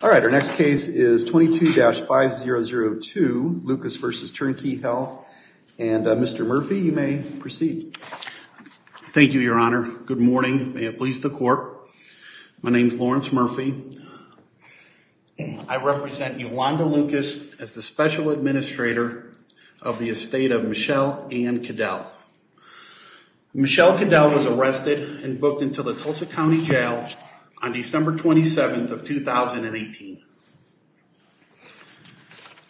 All right, our next case is 22-5002, Lucas v. Turn Key Health, and Mr. Murphy, you may proceed. Thank you, Your Honor. Good morning. May it please the Court. My name is Lawrence Murphy. I represent Yolanda Lucas as the special administrator of the estate of Michelle Ann Caddell. Michelle Caddell was arrested and booked into the Tulsa County Jail on December 27, 2018.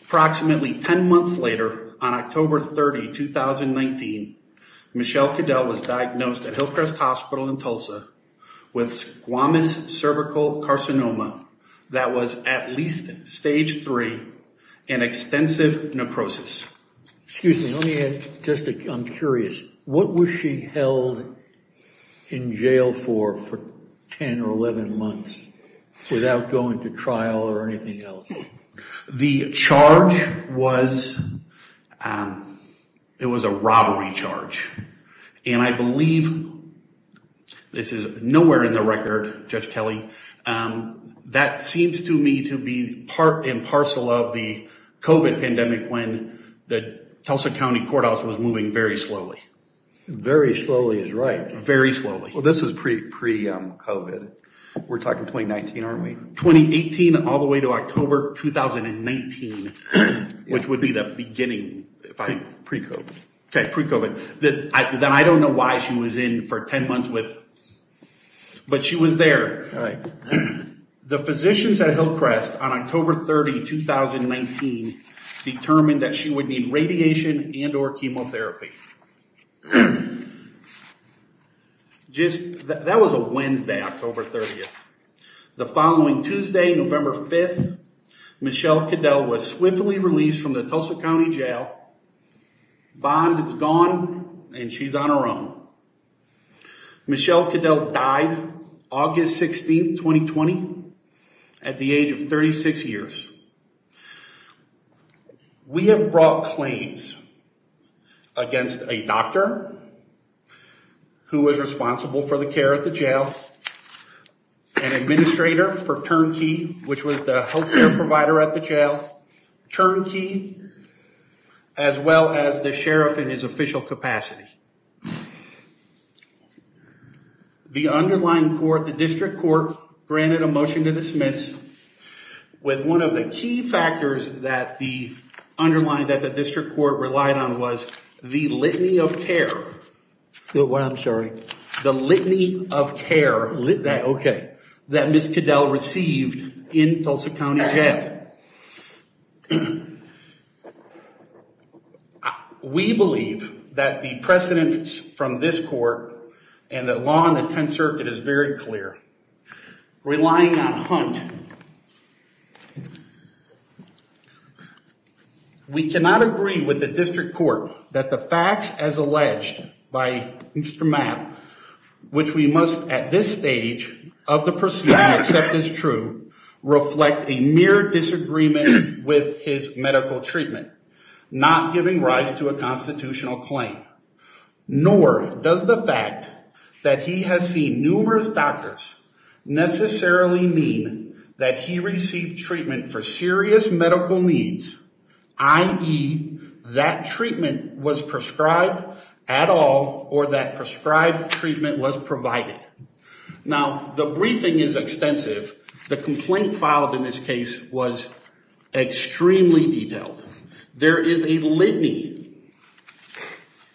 Approximately 10 months later, on October 30, 2019, Michelle Caddell was diagnosed at Hillcrest Hospital in Tulsa with squamous cervical carcinoma that was at least stage 3 and extensive necrosis. Excuse me, let me just, I'm curious, what was she held in jail for, for 10 or 11 months without going to trial or anything else? The charge was, it was a robbery charge. And I believe, this is nowhere in the record, Judge Kelly, that seems to me to be part and parcel of the fact that Tulsa County Courthouse was moving very slowly. Very slowly is right. Very slowly. Well, this is pre-COVID. We're talking 2019, aren't we? 2018 all the way to October 2019, which would be the beginning, if I'm... Pre-COVID. Okay, pre-COVID. Then I don't know why she was in for 10 months with, but she was there. The physicians at Hillcrest on October 30, 2019, determined that she would need radiation and or chemotherapy. Just, that was a Wednesday, October 30th. The following Tuesday, November 5th, Michelle Caddell was swiftly released from the Tulsa County Jail. Bond is gone and she's on her own. Michelle Caddell died August 16th, 2020, at the age of 36 years. We have brought claims against a doctor who was responsible for the care at the jail, an administrator for Turnkey, which was the healthcare provider at the jail, Turnkey, as well as the sheriff in his official capacity. The underlying court, the district court, granted a motion to dismiss with one of the key factors that the underlying, that the district court relied on was the litany of care. What? I'm sorry. The litany of care. Lit... Okay. The litany of care that Ms. Caddell received in Tulsa County Jail. We believe that the precedence from this court and the law on the Tenth Circuit is very clear. Relying on Hunt. We cannot agree with the district court that the facts as alleged by Mr. Mapp, which we of the proceeding accept as true, reflect a mere disagreement with his medical treatment, not giving rise to a constitutional claim, nor does the fact that he has seen numerous doctors necessarily mean that he received treatment for serious medical needs, i.e. that treatment was prescribed at all or that prescribed treatment was provided. Now, the briefing is extensive. The complaint filed in this case was extremely detailed. There is a litany.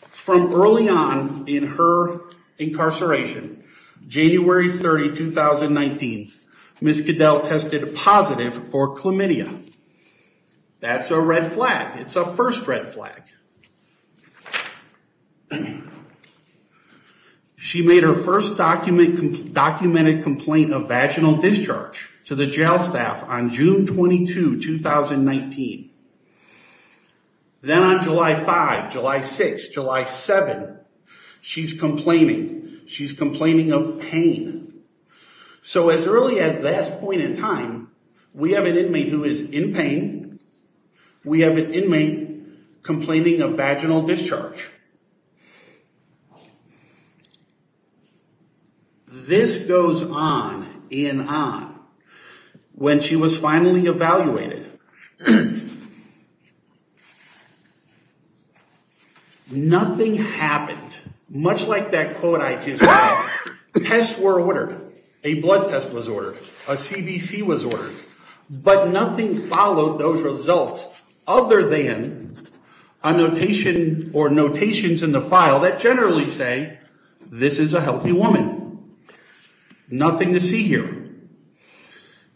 From early on in her incarceration, January 30, 2019, Ms. Caddell tested positive for chlamydia. That's a red flag. It's a first red flag. She made her first documented complaint of vaginal discharge to the jail staff on June 22, 2019. Then on July 5, July 6, July 7, she's complaining. She's complaining of pain. So as early as that point in time, we have an inmate who is in pain. We have an inmate complaining of vaginal discharge. This goes on and on. When she was finally evaluated, nothing happened. Much like that quote I just read. Tests were ordered. A CBC was ordered. But nothing followed those results other than a notation or notations in the file that generally say, this is a healthy woman. Nothing to see here.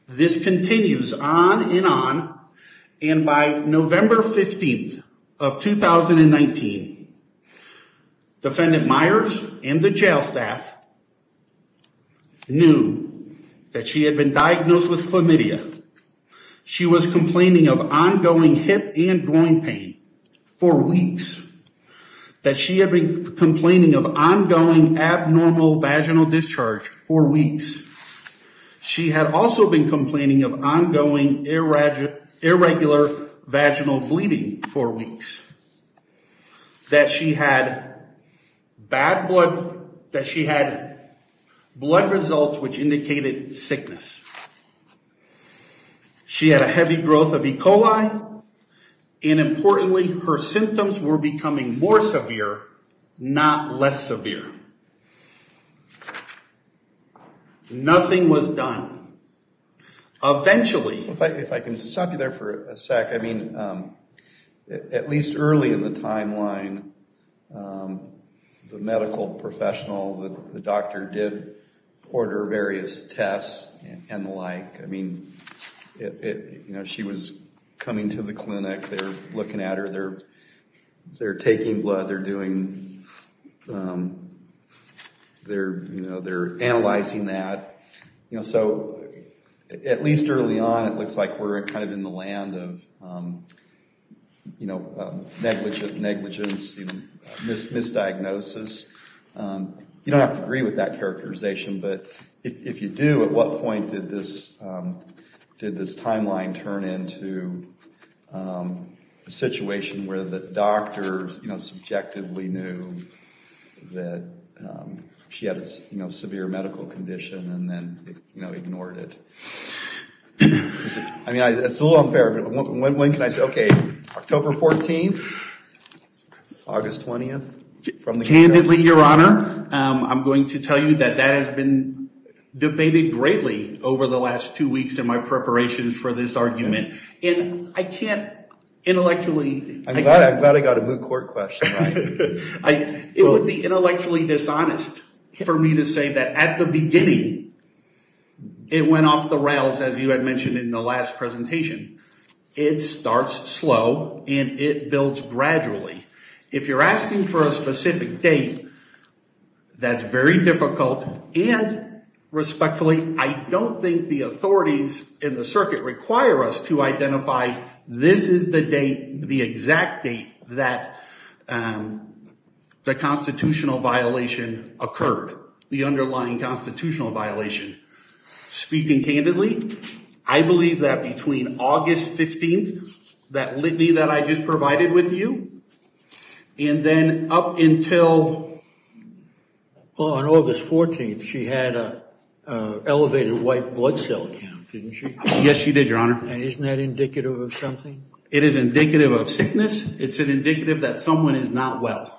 This continues on and on. And by November 15th of 2019, defendant Myers and the jail staff knew that she had been diagnosed with chlamydia. She was complaining of ongoing hip and groin pain for weeks. That she had been complaining of ongoing abnormal vaginal discharge for weeks. She had also been complaining of ongoing irregular vaginal bleeding for weeks. That she had bad blood. That she had blood results which indicated sickness. She had a heavy growth of E. coli. And importantly, her symptoms were becoming more severe, not less severe. Nothing was done. Eventually. If I can stop you there for a sec. I mean, at least early in the timeline, the medical professional, the doctor did order various tests and the like. I mean, you know, she was coming to the clinic. They're looking at her. They're taking blood. They're analyzing that. So, at least early on, it looks like we're kind of in the land of negligence, misdiagnosis. You don't have to agree with that characterization. But if you do, at what point did this timeline turn into a situation where the doctor, you know, subjectively knew that she had a severe medical condition and then, you know, ignored it? I mean, it's a little unfair. When can I say, okay, October 14th? August 20th? Candidly, Your Honor, I'm going to tell you that that has been debated greatly over the last two weeks in my preparations for this argument. And I can't intellectually. I'm glad I got a moot court question right. It would be intellectually dishonest for me to say that at the beginning, it went off the rails, as you had mentioned in the last presentation. It starts slow and it builds gradually. If you're asking for a specific date, that's very difficult. And respectfully, I don't think the authorities in the circuit require us to identify this is the date, the exact date that the constitutional violation occurred, the underlying constitutional violation. Speaking candidly, I believe that between August 15th, that litany that I just provided with you, and then up until... Well, on August 14th, she had an elevated white blood cell count, didn't she? Yes, she did, Your Honor. And isn't that indicative of something? It is indicative of sickness. It's indicative that someone is not well.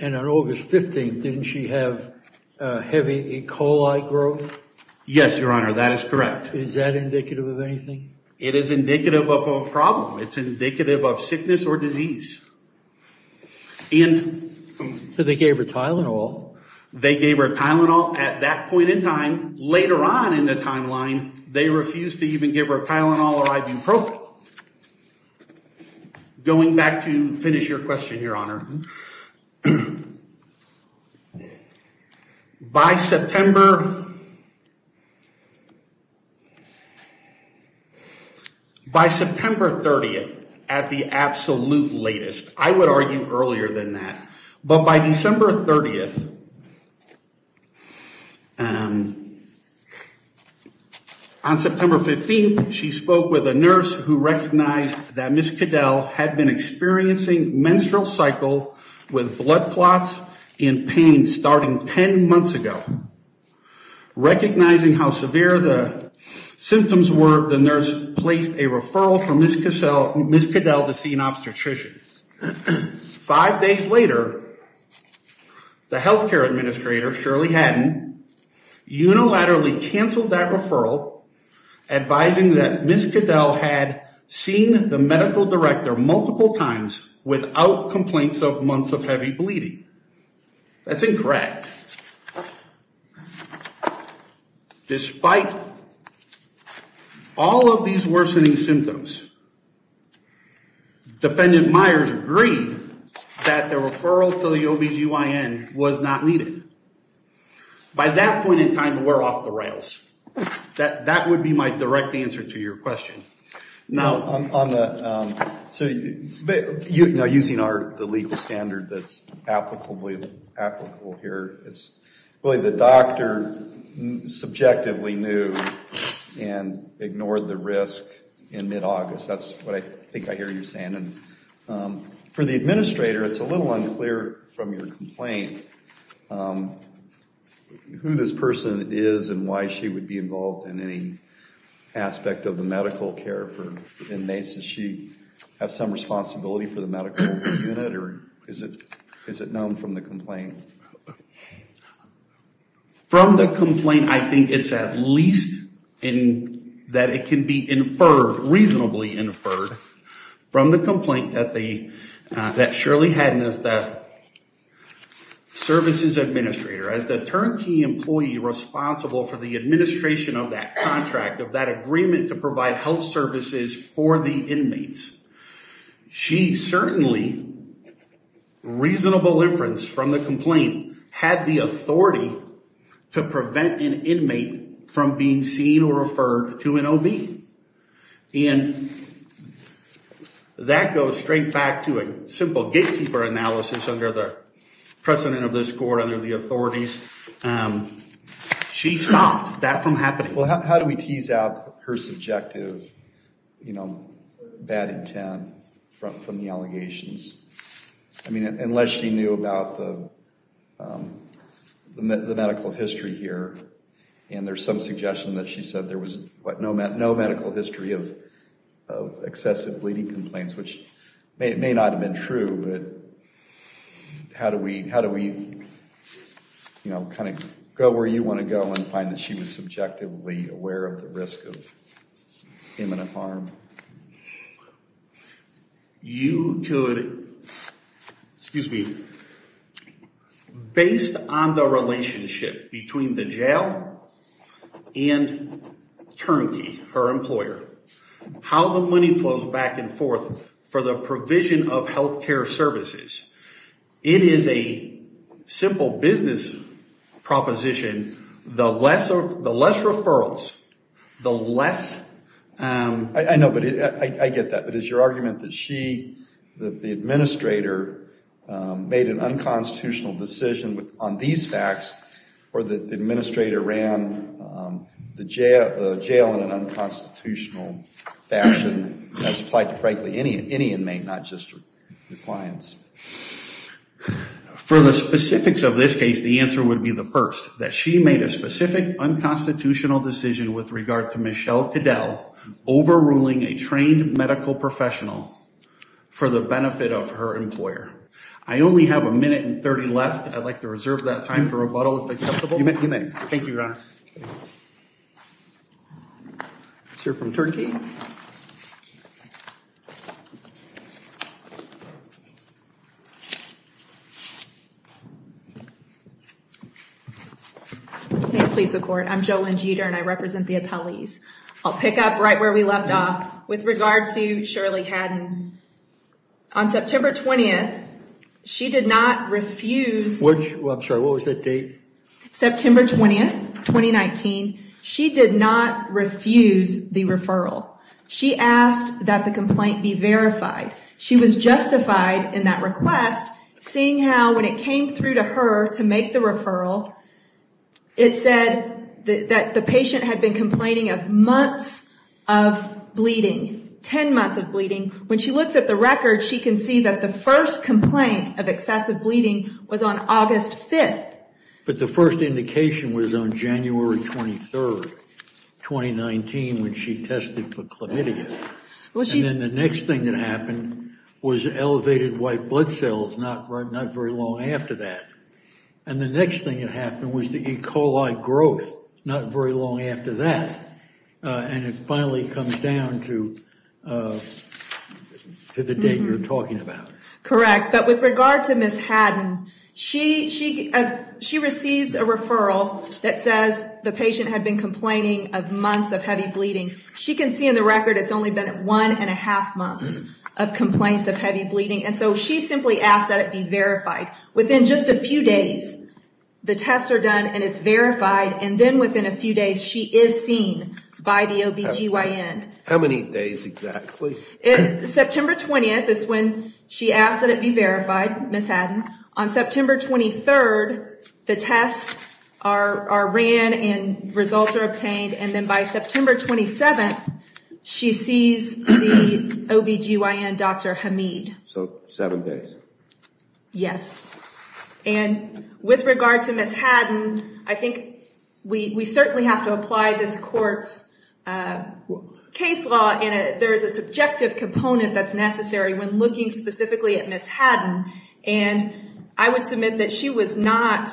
And on August 15th, didn't she have heavy E. coli growth? Yes, Your Honor. That is correct. Is that indicative of anything? It is indicative of a problem. It's indicative of sickness or disease. They gave her Tylenol. They gave her Tylenol at that point in time. Later on in the timeline, they refused to even give her Tylenol or ibuprofen. Going back to finish your question, Your Honor, by September 30th, at the absolute latest, I would argue earlier than that. But by December 30th, on September 15th, she spoke with a nurse who recognized that Ms. Cadell had been experiencing menstrual cycle with blood clots and pain starting 10 months ago. Recognizing how severe the symptoms were, the nurse placed a referral for Ms. Cadell to see an obstetrician. Five days later, the healthcare administrator, Shirley Hadden, unilaterally canceled that referral, advising that Ms. Cadell had seen the medical director multiple times without complaints of months of heavy bleeding. That's incorrect. Despite all of these worsening symptoms, Defendant Myers agreed that the referral to the OBGYN was not needed. By that point in time, we're off the rails. That would be my direct answer to your question. Now, using the legal standard that's applicable here, the doctor subjectively knew and ignored the risk in mid-August. That's what I think I hear you saying. For the administrator, it's a little unclear from your complaint who this person is and why she would be involved in any aspect of the medical care for inmates. Does she have some responsibility for the medical unit, or is it known from the complaint? From the complaint, I think it's at least that it can be inferred, reasonably inferred, from the complaint that Shirley Hadden is the services administrator, as the turnkey employee responsible for the administration of that contract, of that agreement to provide health services for the inmates. She certainly, reasonable inference from the complaint, had the authority to prevent an inmate from being seen or referred to an OB. And that goes straight back to a simple gatekeeper analysis under the precedent of this court, under the authorities. She stopped that from happening. How do we tease out her subjective bad intent from the allegations? Unless she knew about the medical history here, and there's some suggestion that she said there was no medical history of excessive bleeding complaints, which may not have been true. How do we go where you want to go and find that she was subjectively aware of the risk of imminent harm? You could, excuse me, based on the relationship between the jail and turnkey, her employer, how the money flows back and forth for the provision of health care services. It is a simple business proposition. The less referrals, the less... I know, but I get that. But is your argument that she, that the administrator, made an unconstitutional decision on these facts, or that the administrator ran the jail in an unconstitutional fashion, as applied to frankly any inmate, not just the clients? For the specifics of this case, the answer would be the first, that she made a specific unconstitutional decision with regard to Michelle Caddell overruling a trained medical professional for the benefit of her employer. I only have a minute and 30 left. I'd like to reserve that time for rebuttal if acceptable. You may. Thank you, Your Honor. Let's hear from turnkey. May it please the court, I'm JoLynn Jeter and I represent the appellees. I'll pick up right where we left off with regard to Shirley Haddon. On September 20th, she did not refuse... I'm sorry, what was the date? September 20th, 2019. She did not refuse the referral. She asked that the complaint be verified. She was justified in that request, seeing how when it came through to her to make the referral, it said that the patient had been complaining of months of bleeding, 10 months of bleeding. When she looks at the record, she can see that the first complaint of excessive bleeding was on August 5th. But the first indication was on January 23rd, 2019, when she tested for chlamydia. And then the next thing that happened was elevated white blood cells not very long after that. And the next thing that happened was the E. coli growth not very long after that. And it finally comes down to the date you're talking about. Correct. But with regard to Ms. Haddon, she receives a referral that says the patient had been complaining of months of heavy bleeding. She can see in the record it's only been one and a half months of complaints of heavy bleeding. And so she simply asked that it be verified. Within just a few days, the tests are done and it's verified. And then within a few days, she is seen by the OBGYN. How many days exactly? September 20th is when she asked that it be verified, Ms. Haddon. On September 23rd, the tests are ran and results are obtained. And then by September 27th, she sees the OBGYN, Dr. Hameed. So seven days. Yes. And with regard to Ms. Haddon, I think we certainly have to apply this court's case law. There is a subjective component that's necessary when looking specifically at Ms. Haddon. And I would submit that she was not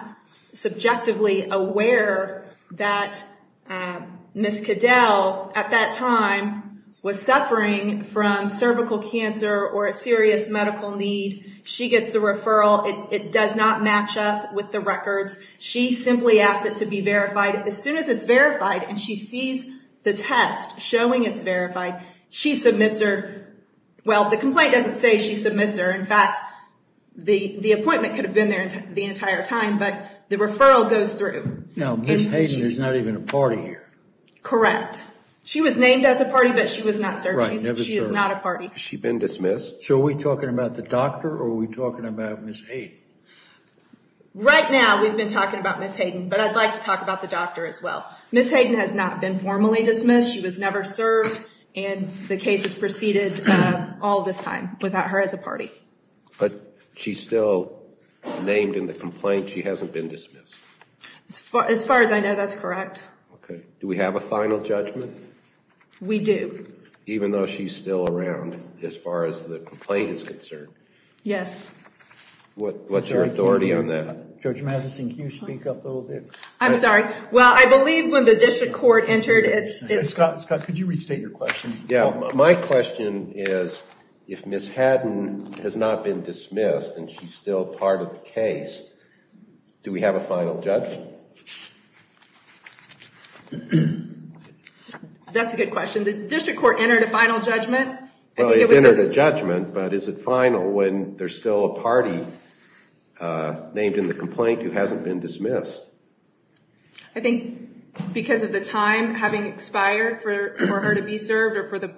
subjectively aware that Ms. Cadell at that time was suffering from cervical cancer or a serious medical need. She gets a referral. It does not match up with the records. She simply asks it to be verified. As soon as it's verified and she sees the test showing it's verified, she submits her... Well, the complaint doesn't say she submits her. The appointment could have been there the entire time, but the referral goes through. Now, Ms. Haddon is not even a party here. Correct. She was named as a party, but she was not served. Right, never served. She is not a party. Has she been dismissed? So are we talking about the doctor or are we talking about Ms. Haddon? Right now, we've been talking about Ms. Haddon, but I'd like to talk about the doctor as well. Ms. Haddon has not been formally dismissed. She was never served. And the case has proceeded all this time without her as a party. But she's still named in the complaint. She hasn't been dismissed. As far as I know, that's correct. Okay. Do we have a final judgment? We do. Even though she's still around as far as the complaint is concerned? Yes. What's your authority on that? Judge Madison, can you speak up a little bit? I'm sorry. Well, I believe when the district court entered, it's... Scott, could you restate your question? Yeah. My question is, if Ms. Haddon has not been dismissed and she's still part of the case, do we have a final judgment? That's a good question. The district court entered a final judgment. Well, it entered a judgment, but is it final when there's still a party named in the complaint who hasn't been dismissed? I think because of the time having expired for her to be served or for the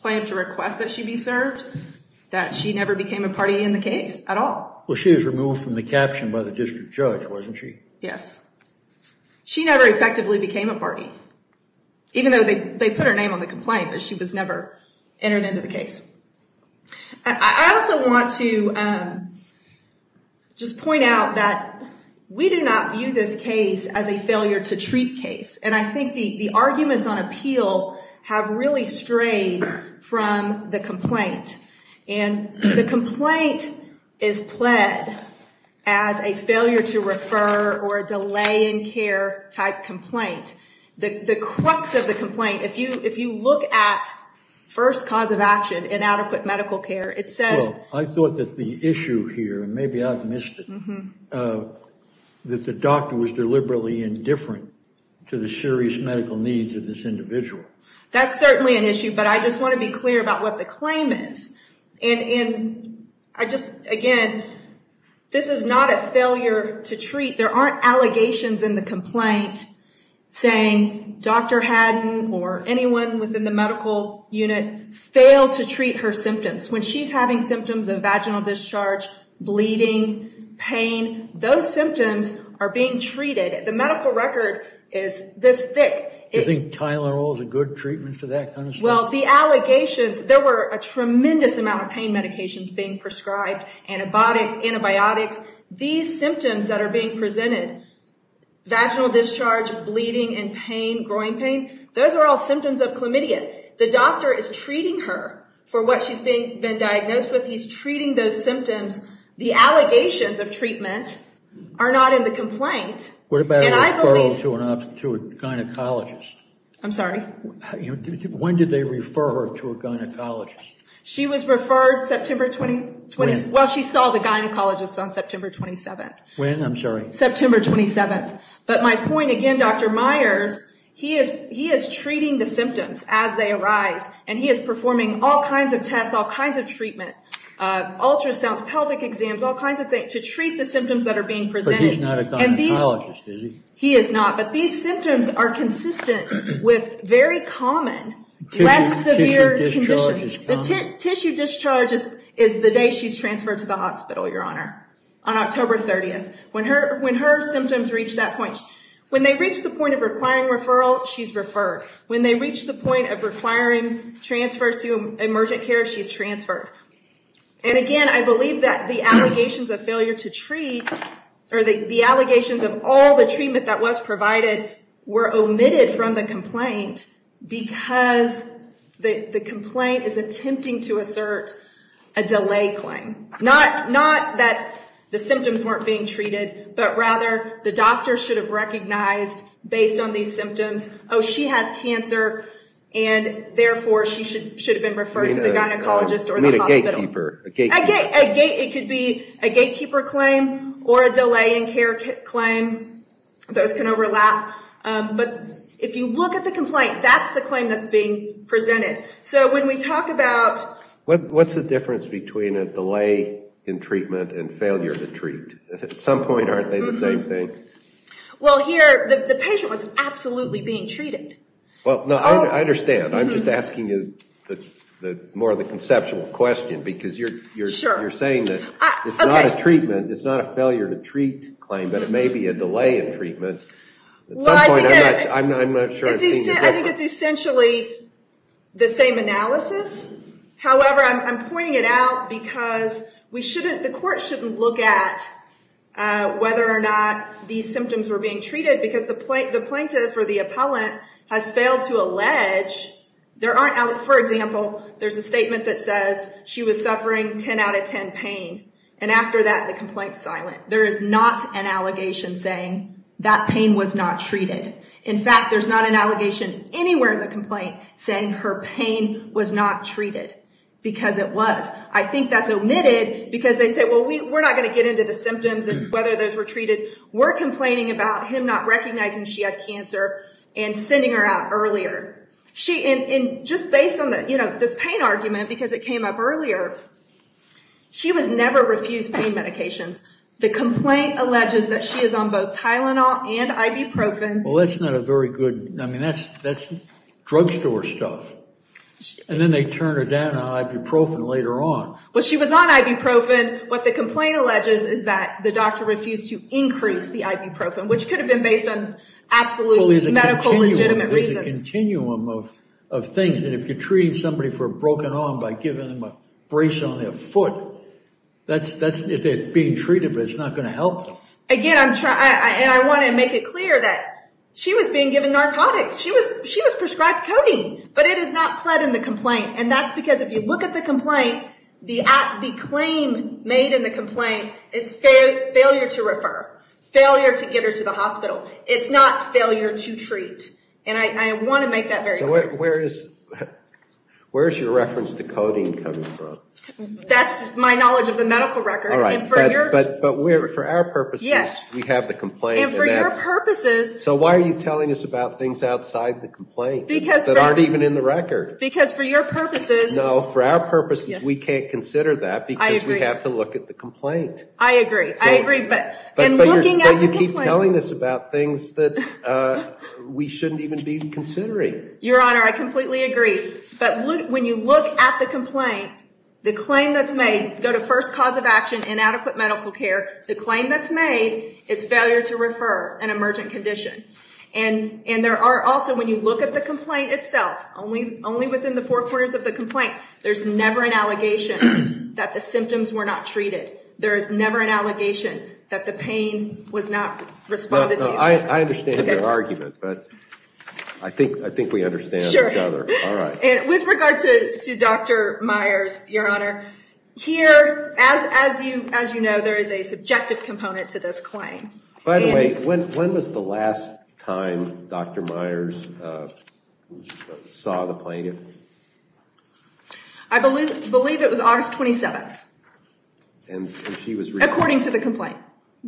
plan to request that she be served, that she never became a party in the case at all. Well, she was removed from the caption by the district judge, wasn't she? Yes. She never effectively became a party, even though they put her name on the complaint, but she was never entered into the case. I also want to just point out that we do not view this case as a failure to treat case. And I think the arguments on appeal have really strayed from the complaint. And the complaint is pled as a failure to refer or a delay in care type complaint. The crux of the complaint, if you look at first cause of action, inadequate medical care, it says... Well, I thought that the issue here, and maybe I've missed it, that the doctor was deliberately indifferent to the serious medical needs of this individual. That's certainly an issue, but I just want to be clear about what the claim is. And again, this is not a failure to treat. There aren't allegations in the complaint saying Dr. Haddon or anyone within the medical unit failed to treat her symptoms. When she's having symptoms of vaginal discharge, bleeding, pain, those symptoms are being treated. The medical record is this thick. You think Tylenol is a good treatment for that kind of stuff? Well, the allegations... There were a tremendous amount of pain medications being prescribed, antibiotics. These symptoms that are being presented, vaginal discharge, bleeding and pain, groin pain, those are all symptoms of chlamydia. The doctor is treating her for what she's been diagnosed with. He's treating those symptoms. The allegations of treatment are not in the complaint. What about referral to a gynecologist? I'm sorry? Did they refer her to a gynecologist? She was referred September... When? Well, she saw the gynecologist on September 27th. When? I'm sorry. September 27th. But my point again, Dr. Myers, he is treating the symptoms as they arise. And he is performing all kinds of tests, all kinds of treatment, ultrasounds, pelvic exams, all kinds of things to treat the symptoms that are being presented. But he's not a gynecologist, is he? He is not. But these symptoms are consistent with very common, less severe conditions. Tissue discharge is the day she's transferred to the hospital, Your Honor. On October 30th. When her symptoms reach that point. When they reach the point of requiring referral, she's referred. When they reach the point of requiring transfer to emergent care, she's transferred. And again, I believe that the allegations of failure to treat, or the allegations of all the treatment that was provided were omitted from the complaint because the complaint is attempting to assert a delay claim. Not that the symptoms weren't being treated, but rather the doctor should have recognized based on these symptoms, oh, she has cancer, and therefore she should have been referred to the gynecologist or the hospital. A gatekeeper. It could be a gatekeeper claim or a delay in care claim. Those can overlap. But if you look at the complaint, that's the claim that's being presented. So when we talk about... What's the difference between a delay in treatment and failure to treat? At some point, aren't they the same thing? Well, here, the patient was absolutely being treated. Well, no, I understand. I'm just asking you more of a conceptual question because you're saying that it's not a treatment, it's not a failure to treat claim, but it may be a delay in treatment. Well, I think it's essentially the same analysis. However, I'm pointing it out because the court shouldn't look at whether or not these symptoms were being treated because the plaintiff or the appellant has failed to allege. For example, there's a statement that says she was suffering 10 out of 10 pain. And after that, the complaint's silent. There is not an allegation saying that pain was not treated. In fact, there's not an allegation anywhere in the complaint saying her pain was not treated because it was. I think that's omitted because they say, well, we're not going to get into the symptoms and whether those were treated. We're complaining about him not recognizing she had cancer and sending her out earlier. And just based on this pain argument because it came up earlier, she was never refused pain medications. The complaint alleges that she is on both Tylenol and ibuprofen. Well, that's not a very good, I mean, that's drugstore stuff. And then they turn her down on ibuprofen later on. Well, she was on ibuprofen. What the complaint alleges is that the doctor refused to increase the ibuprofen, which could have been based on absolute medical legitimate reasons. There's a continuum of things. And if you're treating somebody for a broken arm by giving them a brace on their foot, that's, if they're being treated, but it's not going to help them. Again, I want to make it clear that she was being given narcotics. She was prescribed codeine. But it is not pled in the complaint. And that's because if you look at the complaint, the claim made in the complaint is failure to refer, failure to get her to the hospital. It's not failure to treat. And I want to make that very clear. So where is your reference to codeine coming from? That's my knowledge of the medical record. But for our purposes, we have the complaint. And for your purposes. So why are you telling us about things outside the complaint that aren't even in the record? Because for your purposes. No, for our purposes, we can't consider that because we have to look at the complaint. I agree. I agree. But you keep telling us about things that we shouldn't even be considering. Your Honor, I completely agree. But when you look at the complaint, the claim that's made, go to first cause of action, inadequate medical care. The claim that's made is failure to refer an emergent condition. And there are also, when you look at the complaint itself, only within the four corners of the complaint, there's never an allegation that the symptoms were not treated. There is never an allegation that the pain was not responded to. I understand your argument. But I think we understand each other. With regard to Dr. Myers, Your Honor, here, as you know, there is a subjective component to this claim. By the way, when was the last time Dr. Myers saw the plaintiff? I believe it was August 27th. According to the complaint.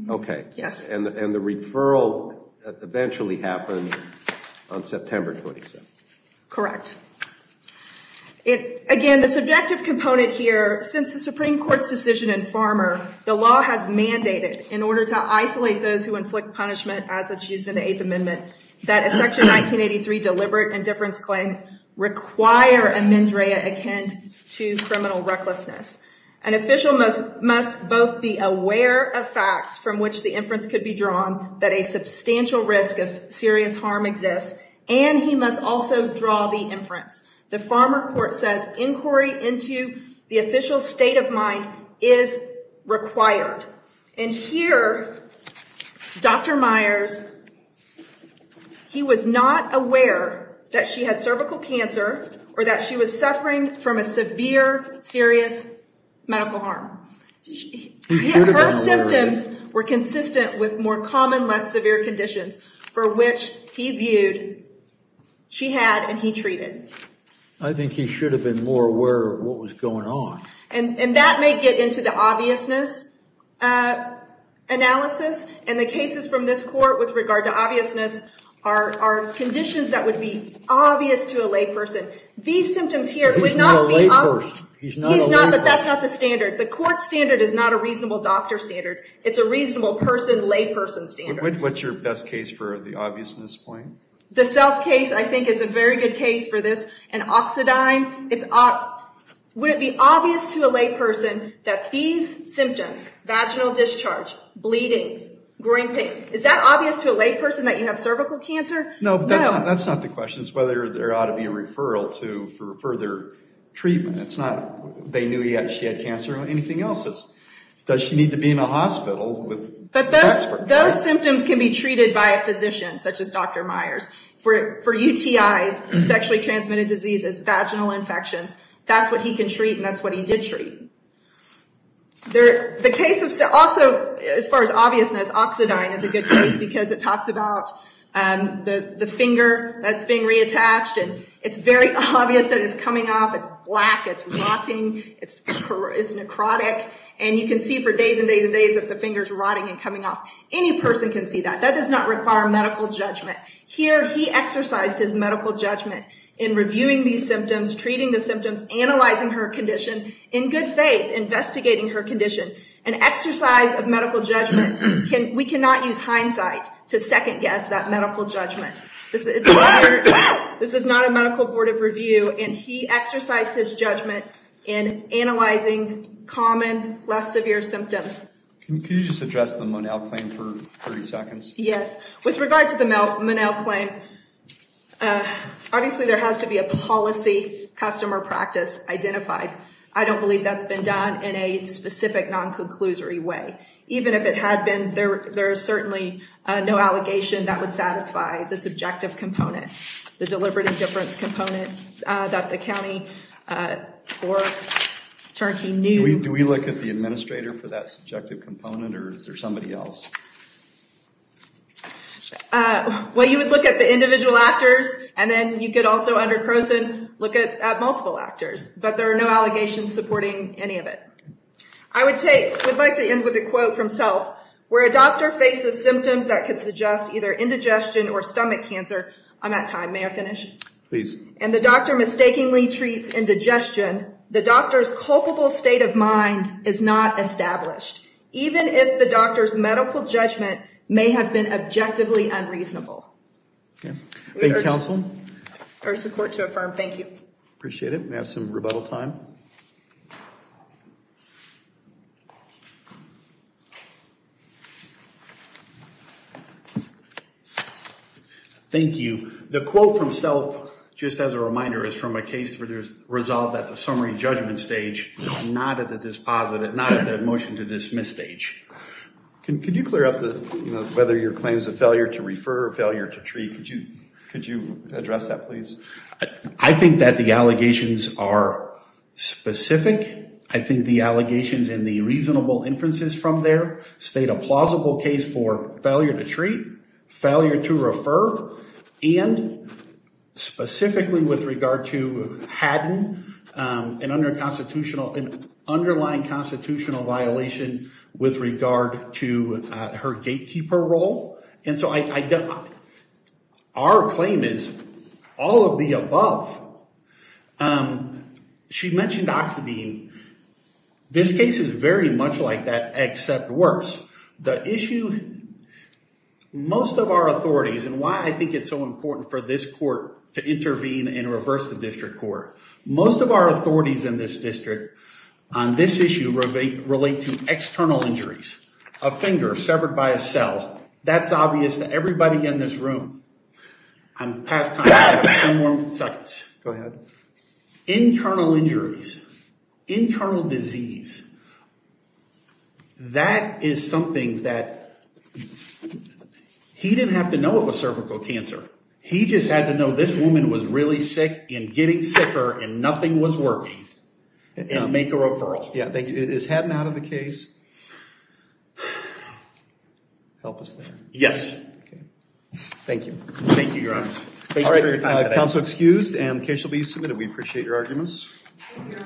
Okay. And the referral eventually happened on September 27th. Correct. Again, the subjective component here, since the Supreme Court's decision in Farmer, the law has mandated, in order to isolate those who inflict punishment as it's used in the Eighth Amendment, that a Section 1983 deliberate indifference claim require a mens rea akin to criminal recklessness. An official must both be aware of facts from which the inference could be drawn that a substantial risk of serious harm exists, and he must also draw the inference. The Farmer Court says inquiry into the official state of mind is required. And here, Dr. Myers, he was not aware that she had cervical cancer or that she was suffering from a severe, serious medical harm. Her symptoms were consistent with more common, less severe conditions for which he viewed she had and he treated. I think he should have been more aware of what was going on. And that may get into the obviousness analysis. And the cases from this court with regard to obviousness are conditions that would be obvious to a layperson. These symptoms here would not be obvious. He's not a layperson. He's not, but that's not the standard. The court standard is not a reasonable doctor standard. It's a reasonable person, layperson standard. Do you have a case for the obviousness point? The self case, I think, is a very good case for this. An oxidine. Would it be obvious to a layperson that these symptoms, vaginal discharge, bleeding, groin pain, is that obvious to a layperson that you have cervical cancer? No, that's not the question. It's whether there ought to be a referral for further treatment. It's not they knew yet she had cancer or anything else. Does she need to be in a hospital? But those symptoms can be treated by a physician, such as Dr. Myers. For UTIs, sexually transmitted diseases, vaginal infections, that's what he can treat and that's what he did treat. The case of, also, as far as obviousness, oxidine is a good case because it talks about the finger that's being reattached. It's very obvious that it's coming off. It's black, it's rotting, it's necrotic. And you can see for days and days and days that the finger's rotting and coming off. Any person can see that. That does not require medical judgment. Here, he exercised his medical judgment in reviewing these symptoms, treating the symptoms, analyzing her condition in good faith, investigating her condition. An exercise of medical judgment, we cannot use hindsight to second guess that medical judgment. This is not a medical board of review and he exercised his judgment in analyzing common, less severe symptoms. Can you just address the Monell claim for 30 seconds? Yes. With regard to the Monell claim, obviously there has to be a policy, customer practice identified. I don't believe that's been done in a specific, non-conclusory way. Even if it had been, there's certainly no allegation that would satisfy the subjective component, the deliberate indifference component that the county court attorney knew. Do we look at the administrator for that subjective component or is there somebody else? Well, you would look at the individual actors and then you could also, under Croson, look at multiple actors. But there are no allegations supporting any of it. I would like to end with a quote from Self. Where a doctor faces symptoms that could suggest either indigestion or stomach cancer, I'm at time. May I finish? Please. And the doctor mistakenly treats indigestion, the doctor's culpable state of mind is not established. Even if the doctor's medical judgment may have been objectively unreasonable. Thank you, counsel. Urge the court to affirm. Thank you. Appreciate it. We have some rebuttal time. Thank you. The quote from Self, just as a reminder, is from a case that was resolved at the summary judgment stage, not at the motion to dismiss stage. Could you clear up whether your claim is a failure to refer or failure to treat? Could you address that, please? I think that the allegations are specific. I think the allegations and the reasonable inferences from there state a plausible case for failure to treat, failure to refer, and specifically with regard to Haddon, an underlying constitutional violation with regard to her gatekeeper role. And so our claim is all of the above. She mentioned Oxidine. This case is very much like that, except worse. The issue, most of our authorities, and why I think it's so important for this court to intervene and reverse the district court, most of our authorities in this district on this issue relate to external injuries, a finger severed by a cell. That's obvious to everybody in this room. I'm past time. Go ahead. Internal injuries, internal disease, that is something that he didn't have to know it was cervical cancer. He just had to know this woman was really sick and getting sicker and nothing was working and make a referral. Yeah, thank you. Is Haddon out of the case? Help us there. Yes. Thank you. Thank you, Your Honor. Thank you for your time today.